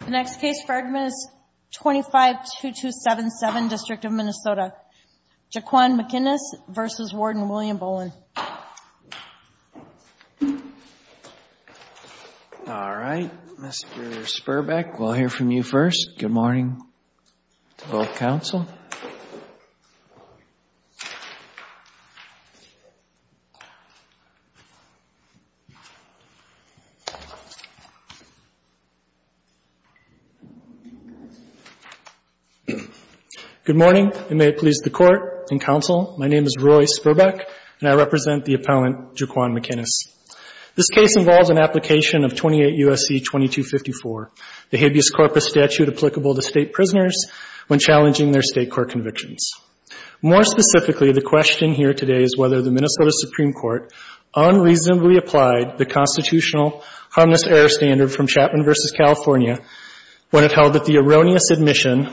The next case for argument is 25-2277, District of Minnesota. Jquan McInnis v. Warden William Bolin All right, Mr. Sperbeck, we'll hear from you first. Good morning to both counsel. Good morning, and may it please the Court and counsel, my name is Roy Sperbeck, and I represent the appellant Jquan McInnis. This case involves an application of 28 U.S.C. 2254, the habeas corpus statute applicable to state prisoners when challenging their state court convictions. More specifically, the question here today is whether the Minnesota Supreme Court unreasonably applied the constitutional harmless error standard from Chapman v. California when it held that the erroneous admission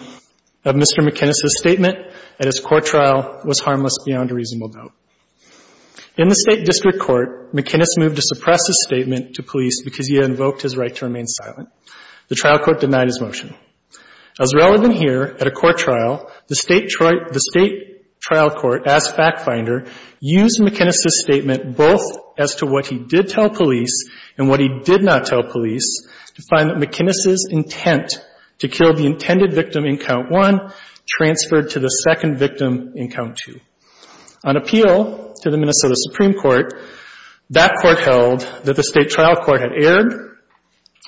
of Mr. McInnis' statement at his court trial was harmless beyond a reasonable doubt. In the State District Court, McInnis moved to suppress his statement to police because he had invoked his right to remain silent. The trial court denied his motion. As relevant here, at a court trial, the State trial court, as fact finder, used McInnis' statement both as to what he did tell police and what he did not tell police to find that McInnis' intent to kill the intended victim in Count 1 transferred to the second victim in Count 2. On appeal to the Minnesota Supreme Court, that court held that the State trial court had erred,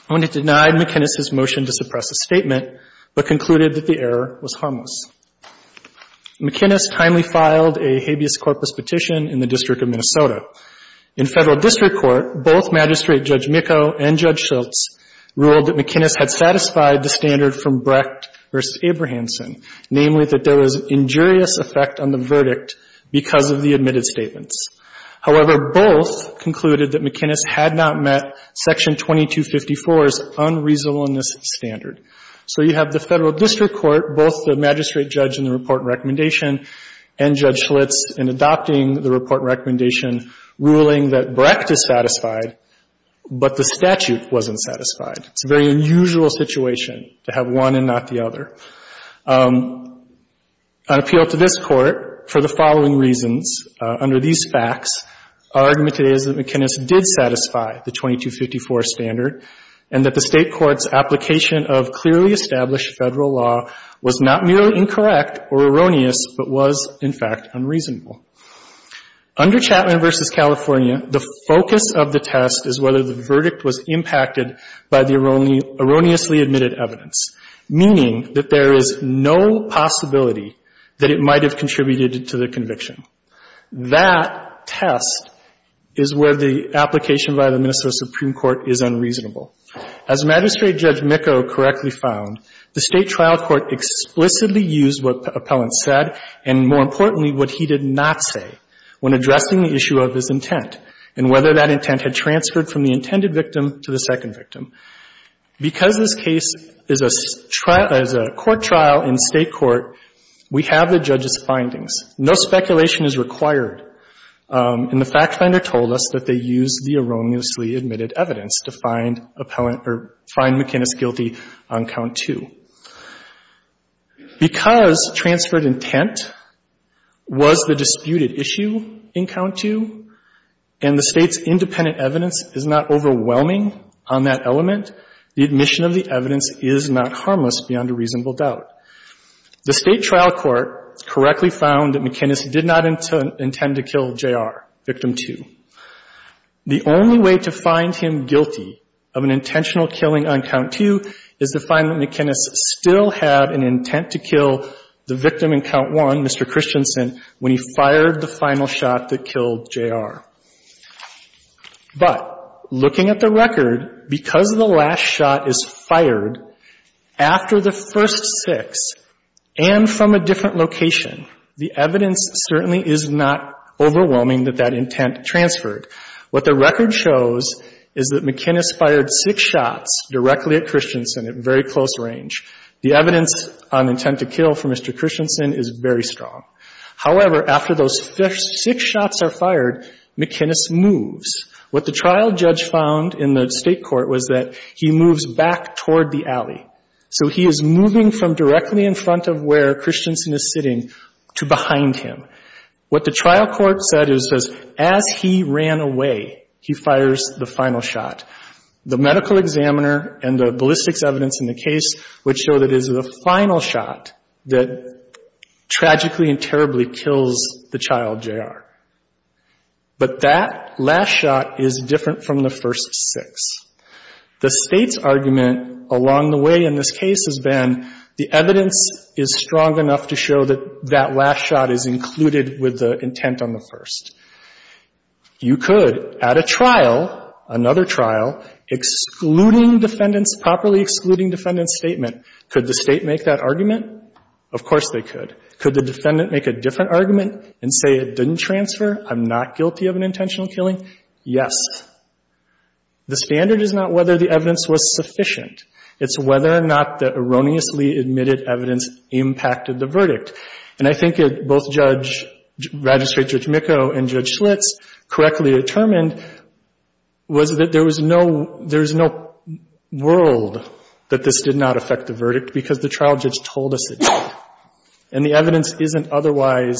only denied McInnis' motion to suppress his statement, but concluded that the error was harmless. McInnis timely filed a habeas corpus petition in the District of Minnesota. In Federal District Court, both Magistrate Judge Mikko and Judge Schultz ruled that McInnis had satisfied the standard from Brecht v. Abrahamson, namely that there was injurious effect on the verdict because of the admitted statements. However, both concluded that McInnis had not met Section 2254's unreasonableness standard. So you have the Federal District Court, both the Magistrate Judge in the report and recommendation, and Judge Schultz in adopting the report and recommendation, ruling that Brecht is satisfied, but the statute wasn't satisfied. It's a very unusual situation to have one and not the other. On appeal to this Court, for the following reasons, under these facts, our argument today is that McInnis did satisfy the 2254 standard and that the State court's application of clearly established Federal law was not merely incorrect or erroneous, but was, in fact, unreasonable. Under Chapman v. California, the focus of the test is whether the verdict was impacted by the erroneously admitted evidence, meaning that there is no possibility that it might have contributed to the conviction. That test is where the application by the Minnesota Supreme Court is unreasonable. As Magistrate Judge Mikko correctly found, the State trial court explicitly used what the appellant said and, more importantly, what he did not say when addressing the issue of his intent and whether that intent had transferred from the intended victim to the second victim. Because this case is a trial, is a court trial in State court, we have the judge's findings. No speculation is required. And the fact finder told us that they used the erroneously admitted evidence to find appellant or find McInnis guilty on count two. Because transferred intent was the disputed issue in count two and the State's independent evidence is not overwhelming on that element, the admission of the evidence is not harmless beyond a reasonable doubt. The State trial court correctly found that McInnis did not intend to kill J.R., victim two. The only way to find him guilty of an intentional killing on count two is to find that McInnis still had an intent to kill the victim in count one, Mr. Christensen, when he fired the final shot that killed J.R. But looking at the record, because the last shot is fired after the first six and from a different location, the evidence certainly is not overwhelming that that intent transferred. What the record shows is that McInnis fired six shots directly at Christensen at very close range. The evidence on intent to kill for Mr. Christensen is very strong. However, after those six shots are fired, McInnis moves. What the trial judge found in the State court was that he moves back toward the alley. So he is moving from directly in front of where Christensen is sitting to behind him. What the trial court said is as he ran away, he fires the final shot. The medical examiner and the ballistics evidence in the case would show that it is the final shot that tragically and terribly kills the child, J.R. But that last shot is different from the first six. The State's argument along the way in this case has been the evidence is strong enough to show that that last shot is included with the intent on the first. You could at a trial, another trial, excluding defendants, properly excluding defendants' statement. Could the State make that argument? Of course they could. Could the defendant make a different argument and say it didn't transfer, I'm not guilty of an intentional killing? Yes. The standard is not whether the evidence was sufficient. It's whether or not the erroneously admitted evidence impacted the verdict. And I think both Judge, Registrary Judge Mikko and Judge Schlitz correctly determined was that there was no world that this did not affect the verdict because the trial judge told us it did. And the evidence isn't otherwise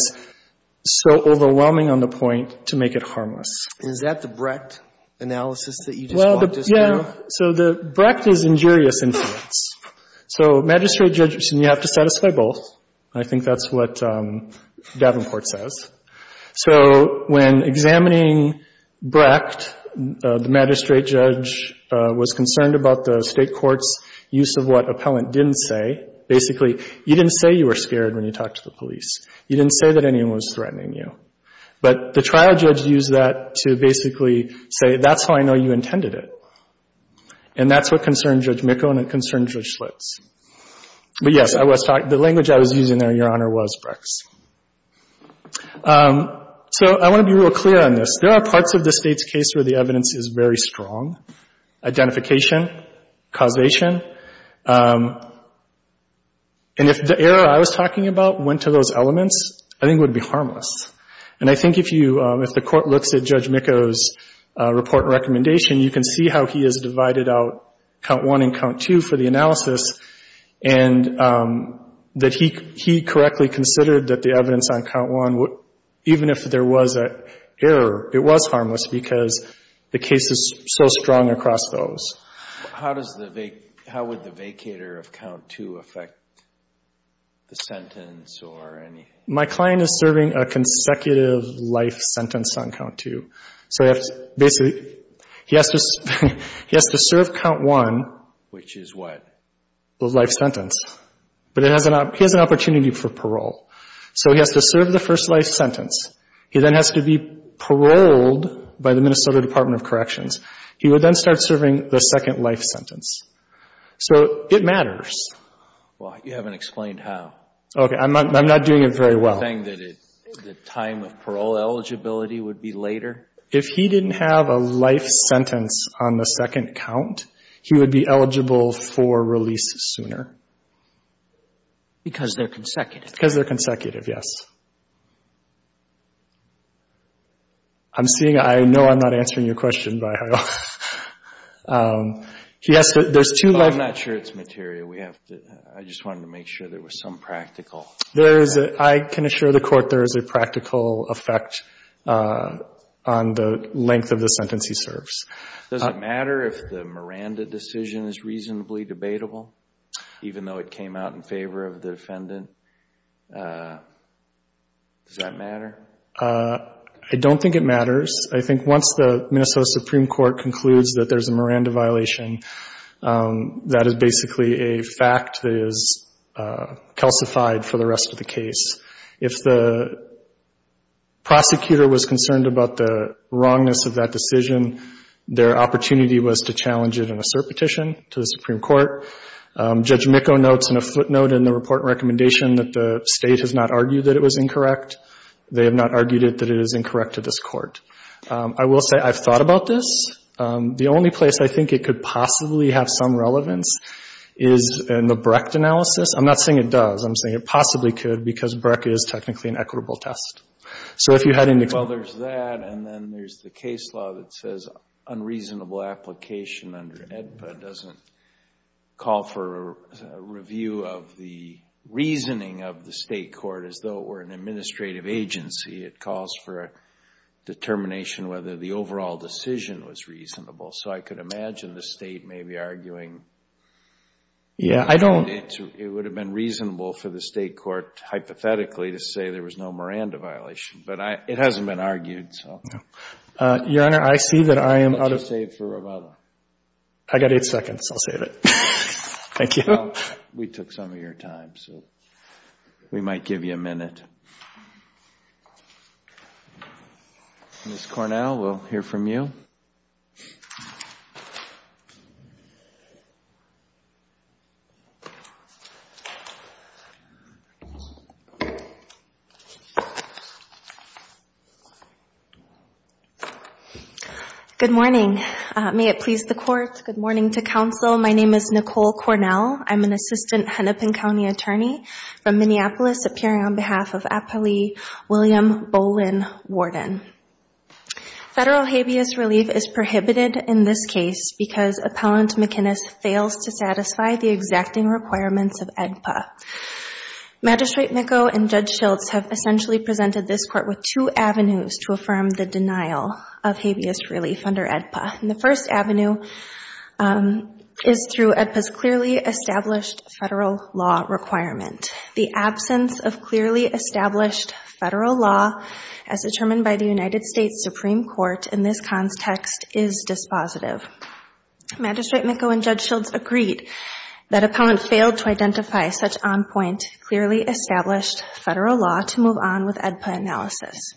so overwhelming on the point to make it harmless. Is that the Brecht analysis that you just walked us through? Yeah. So the Brecht is injurious influence. So magistrate judge, you have to satisfy both. I think that's what Davenport says. So when examining Brecht, the magistrate judge was concerned about the State court's use of what appellant didn't say. Basically, you didn't say you were scared when you talked to the police. You didn't say that anyone was threatening you. But the trial judge used that to basically say, that's how I know you intended it. And that's what concerned Judge Mikko and it concerned Judge Schlitz. But yes, I was talking, the language I was using there, Your Honor, was Brecht. So I want to be real clear on this. There are parts of the State's case where the evidence is very strong, identification, causation. And if the error I was talking about went to those elements, I think it would be harmless. And I think if you, if the court looks at Judge Mikko's report and recommendation, you can see how he has divided out count one and count two for the analysis and that he correctly considered that the evidence on count one, even if there was an error, it was harmless because the case is so strong across those. How does the, how would the vacator of count two affect the sentence or anything? My client is serving a consecutive life sentence on count two. So basically, he has to serve count one. Which is what? The life sentence. But he has an opportunity for parole. So he has to serve the first life sentence. He then has to be paroled by the Minnesota Department of Corrections. He would then start serving the second life sentence. So it matters. Well, you haven't explained how. Okay. I'm not doing it very well. Are you saying that the time of parole eligibility would be later? If he didn't have a life sentence on the second count, he would be eligible for release sooner. Because they're consecutive. Because they're consecutive, yes. I'm seeing, I know I'm not answering your question by how. Yes, there's two life. I'm not sure it's material. I just wanted to make sure there was some practical. I can assure the court there is a practical effect on the length of the sentence he serves. Does it matter if the Miranda decision is reasonably debatable, even though it came out in favor of the defendant? Does that matter? I don't think it matters. I think once the Minnesota Supreme Court concludes that there's a Miranda violation, that is basically a fact that is calcified for the rest of the case. If the prosecutor was concerned about the wrongness of that decision, their opportunity was to challenge it in a cert petition to the Supreme Court. Judge Mikko notes in a footnote in the report and recommendation that the state has not argued that it was incorrect. They have not argued that it is incorrect to this court. I will say I've thought about this. The only place I think it could possibly have some relevance is in the Brecht analysis. I'm not saying it does. I'm saying it possibly could because Brecht is technically an equitable test. Well, there's that, and then there's the case law that says unreasonable application under AEDPA doesn't call for a review of the reasoning of the state court as though it were an administrative agency. It calls for a determination whether the overall decision was reasonable. So I could imagine the state maybe arguing. Yeah, I don't. It would have been reasonable for the state court hypothetically to say there was no Miranda violation, but it hasn't been argued, so. Your Honor, I see that I am out of. How much do you save for Rovada? I've got eight seconds. I'll save it. Thank you. Well, we took some of your time, so we might give you a minute. Ms. Cornell, we'll hear from you. Good morning. May it please the Court. Good morning to counsel. My name is Nicole Cornell. I'm an assistant Hennepin County attorney from Minneapolis, appearing on behalf of Appali William Bolin Warden. Federal habeas relief is prohibited in this case because Appellant McInnis fails to satisfy the exacting requirements of AEDPA. Magistrate Mikko and Judge Schiltz have essentially presented this Court with two avenues to affirm the denial of habeas relief under AEDPA. And the first avenue is through AEDPA's clearly established federal law requirement. The absence of clearly established federal law as determined by the United States Supreme Court in this context is dispositive. Magistrate Mikko and Judge Schiltz agreed that Appellant failed to identify such on-point clearly established federal law to move on with AEDPA analysis.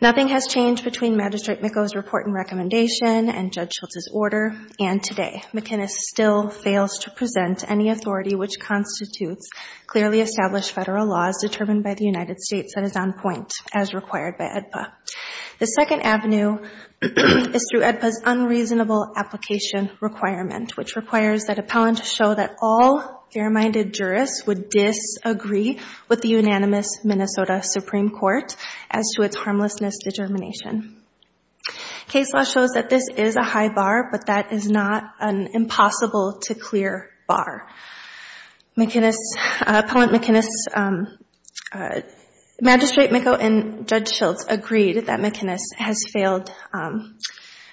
Nothing has changed between Magistrate Mikko's report and recommendation and Judge Schiltz's order. And today, McInnis still fails to present any authority which constitutes clearly established federal law as determined by the United States that is on point as required by AEDPA. The second avenue is through AEDPA's unreasonable application requirement, which requires that Appellant show that all fair-minded jurists would disagree with the unanimous Minnesota Supreme Court as to its harmlessness determination. Case law shows that this is a high bar, but that is not an impossible-to-clear bar. Appellant McInnis, Magistrate Mikko, and Judge Schiltz agreed that McInnis has failed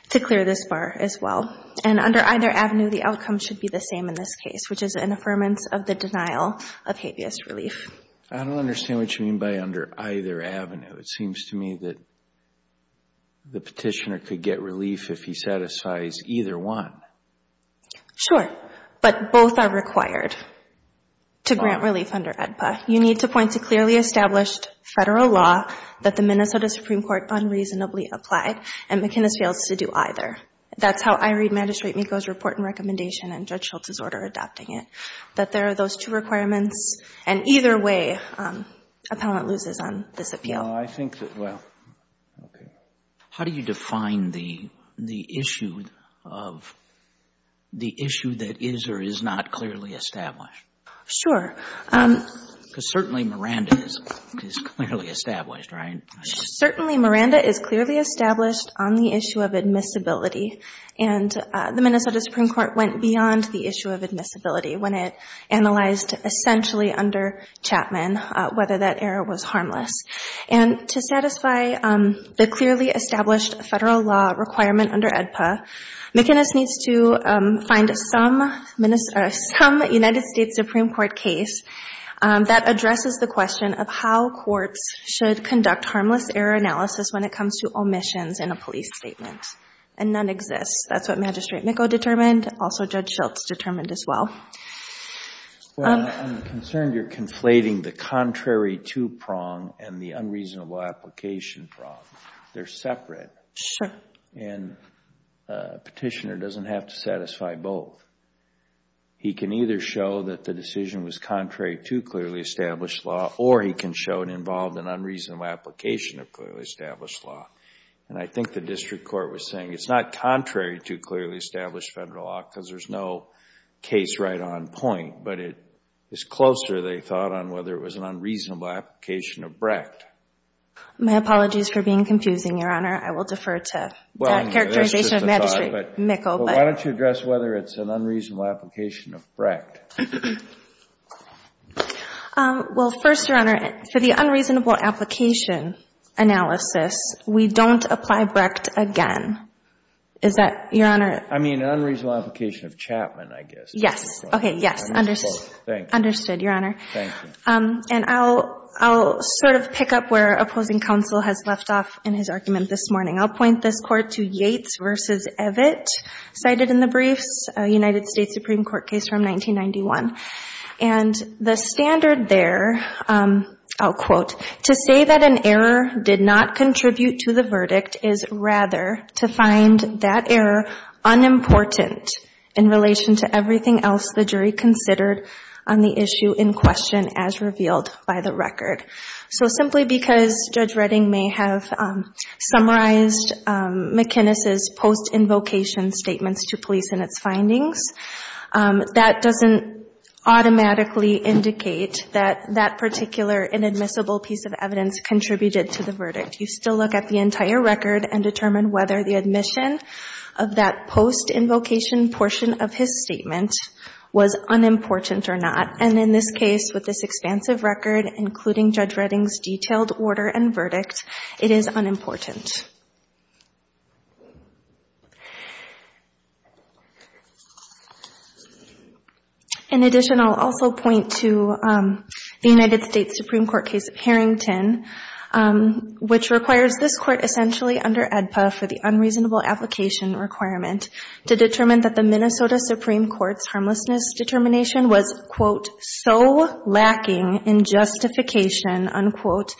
to clear this bar as well. And under either avenue, the outcome should be the same in this case, which is an affirmance of the denial of habeas relief. I don't understand what you mean by under either avenue. It seems to me that the Petitioner could get relief if he satisfies either one. Sure. But both are required to grant relief under AEDPA. You need to point to clearly established federal law that the Minnesota Supreme Court unreasonably applied, and McInnis fails to do either. That's how I read Magistrate Mikko's report and recommendation and Judge Schiltz's order adopting it, that there are those two requirements, and either way Appellant loses on this appeal. I think that, well, okay. How do you define the issue of the issue that is or is not clearly established? Sure. Because certainly Miranda is clearly established, right? Certainly Miranda is clearly established on the issue of admissibility. And the Minnesota Supreme Court went beyond the issue of admissibility when it analyzed essentially under Chapman whether that error was harmless. And to satisfy the clearly established federal law requirement under AEDPA, McInnis needs to find some United States Supreme Court case that addresses the question of how courts should conduct harmless error analysis when it comes to omissions in a police statement. And none exists. That's what Magistrate Mikko determined. Also, Judge Schiltz determined as well. Well, I'm concerned you're conflating the contrary two-prong and the unreasonable application prong. They're separate. Sure. And a petitioner doesn't have to satisfy both. He can either show that the decision was contrary to clearly established law, or he can show it involved an unreasonable application of clearly established law. And I think the district court was saying it's not contrary to clearly established federal law because there's no case right on point. But it is closer, they thought, on whether it was an unreasonable application of Brecht. My apologies for being confusing, Your Honor. I will defer to that characterization of Magistrate Mikko. But why don't you address whether it's an unreasonable application of Brecht? Well, first, Your Honor, for the unreasonable application analysis, we don't apply Brecht again. Is that, Your Honor? I mean, an unreasonable application of Chapman, I guess. Yes. Okay. Yes. Understood. Thank you. Understood, Your Honor. Thank you. And I'll sort of pick up where opposing counsel has left off in his argument this morning. I'll point this Court to Yates v. Evitt cited in the briefs, a United States Supreme Court case from 1991. And the standard there, I'll quote, to say that an error did not contribute to the verdict is rather to find that error unimportant in relation to everything else the jury considered on the issue in question as revealed by the record. So simply because Judge Redding may have summarized McInnes' post-invocation statements to police in its findings, that doesn't automatically indicate that that particular inadmissible piece of evidence contributed to the verdict. You still look at the entire record and determine whether the admission of that post-invocation portion of his statement was unimportant or not. And in this case, with this expansive record, including Judge Redding's detailed order and verdict, it is unimportant. In addition, I'll also point to the United States Supreme Court case of Harrington, which requires this Court essentially under AEDPA for the unreasonable application requirement to determine that the Minnesota Supreme Court's harmlessness determination was, quote, so lacking in justification, unquote,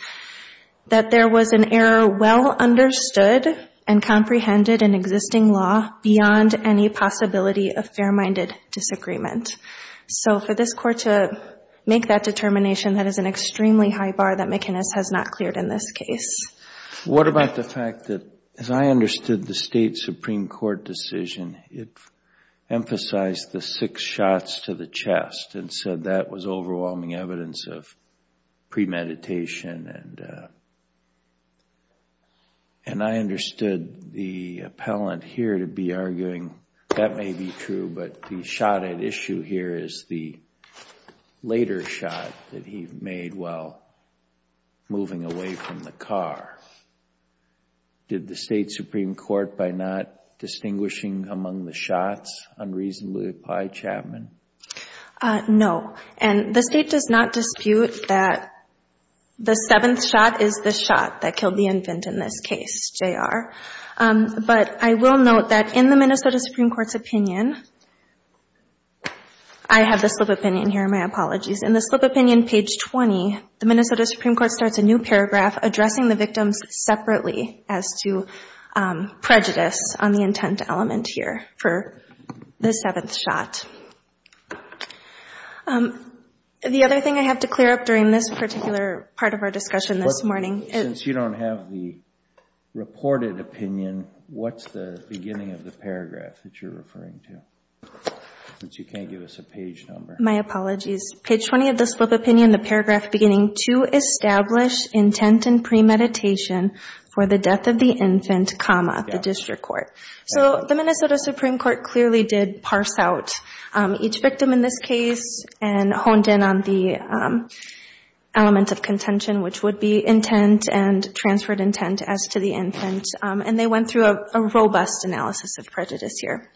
that there was an error well understood and comprehended in existing law beyond any possibility of fair-minded disagreement. So for this Court to make that determination, that is an extremely high bar that McInnes has not cleared in this case. What about the fact that, as I understood the State Supreme Court decision, it emphasized the six shots to the chest and said that was overwhelming evidence of premeditation. And I understood the appellant here to be arguing that may be true, but the shot at issue here is the later shot that he made while moving away from the car. Did the State Supreme Court, by not distinguishing among the shots, unreasonably apply Chapman? No. And the State does not dispute that the seventh shot is the shot that killed the infant in this case, J.R. But I will note that in the Minnesota Supreme Court's opinion, I have the slip opinion here. My apologies. In the slip opinion, page 20, the Minnesota Supreme Court starts a new paragraph addressing the victims separately as to prejudice on the intent element here for the seventh shot. The other thing I have to clear up during this particular part of our discussion this morning is... Since you don't have the reported opinion, what's the beginning of the paragraph that you're referring to? Since you can't give us a page number. So the Minnesota Supreme Court clearly did parse out each victim in this case and honed in on the element of contention, which would be intent and transferred intent as to the infant. And they went through a robust analysis of prejudice here.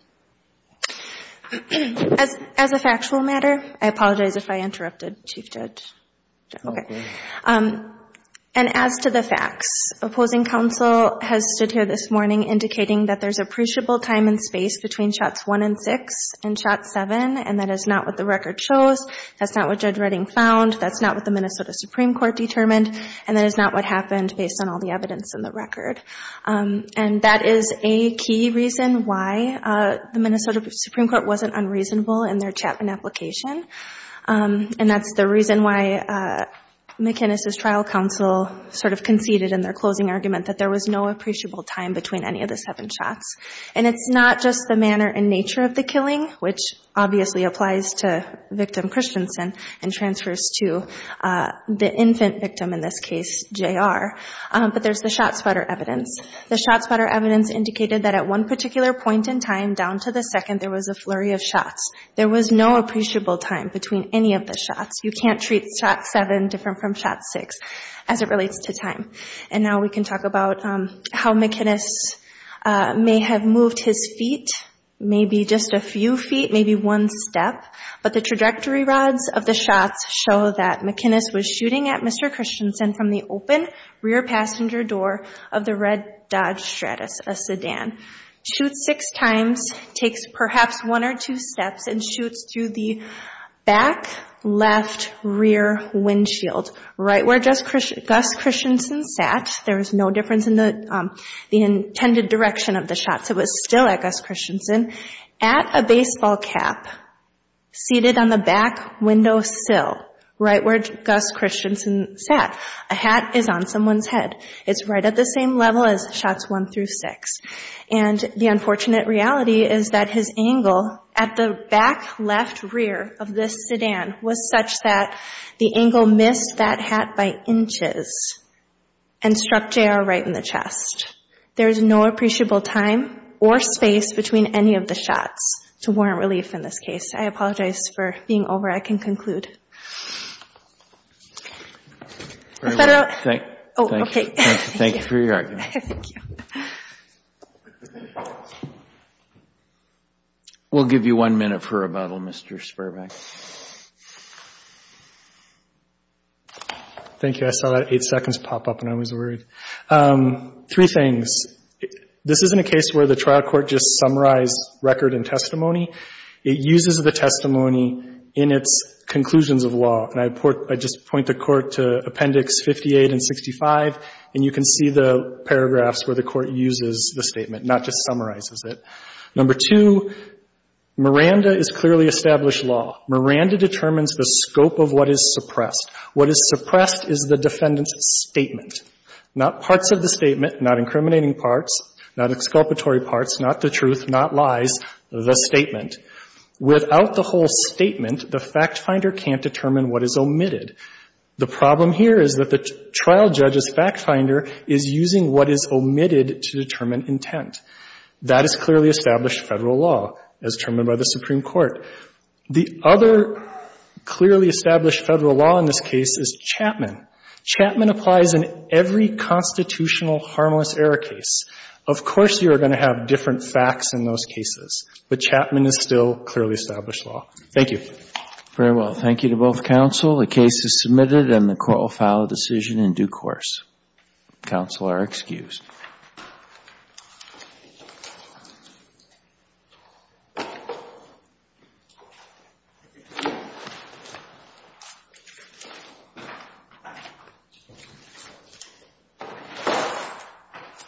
As a factual matter, I apologize if I interrupted, Chief Judge. Okay. And as to the facts, opposing counsel has stood here this morning indicating that there's appreciable time and space between shots one and six and shots seven, and that is not what the record shows, that's not what Judge Redding found, that's not what the Minnesota Supreme Court determined, and that is not what happened based on all the evidence in the case. The Minnesota Supreme Court wasn't unreasonable in their Chapman application, and that's the reason why McInnes' trial counsel sort of conceded in their closing argument that there was no appreciable time between any of the seven shots. And it's not just the manner and nature of the killing, which obviously applies to victim Christensen and transfers to the infant victim in this case, J.R., but there's the shot spotter evidence. The shot spotter evidence indicated that at one particular point in time down to the second there was a flurry of shots. There was no appreciable time between any of the shots. You can't treat shots seven different from shots six as it relates to time. And now we can talk about how McInnes may have moved his feet, maybe just a few feet, maybe one step, but the trajectory rods of the shots show that McInnes was shooting at Mr. Christensen from the open rear passenger door of the red Dodge Stratus, a sedan, shoots six times, takes perhaps one or two steps, and shoots through the back, left, rear windshield, right where Gus Christensen sat. There was no difference in the intended direction of the shots. It was still at Gus Christensen, at a baseball cap, seated on the back window sill, right where Gus Christensen sat. A hat is on someone's head. It's right at the same level as shots one through six. And the unfortunate reality is that his angle at the back left rear of this sedan was such that the angle missed that hat by inches and struck J.R. right in the chest. There is no appreciable time or space between any of the shots to warrant relief in this case. I apologize for being over. I can conclude. Thank you. Thank you for your argument. We'll give you one minute for rebuttal, Mr. Sperbank. Thank you. I saw that eight seconds pop up and I was worried. Three things. This isn't a case where the trial court just summarized record and testimony. It uses the testimony in its conclusions of law. And I just point the court to Appendix 58 and 65, and you can see the paragraphs where the court uses the statement, not just summarizes it. Number two, Miranda is clearly established law. Miranda determines the scope of what is suppressed. What is suppressed is the defendant's statement. Not parts of the statement, not incriminating parts, not exculpatory parts, not the truth, not lies, the statement. Without the whole statement, the fact finder can't determine what is omitted. The problem here is that the trial judge's fact finder is using what is omitted to determine intent. That is clearly established Federal law as determined by the Supreme Court. The other clearly established Federal law in this case is Chapman. Chapman applies in every constitutional harmless error case. Of course you are going to have different facts in those cases, but Chapman is still clearly established law. Thank you. Thank you to both counsel. The case is submitted and the court will file a decision in due course. Counsel are excused.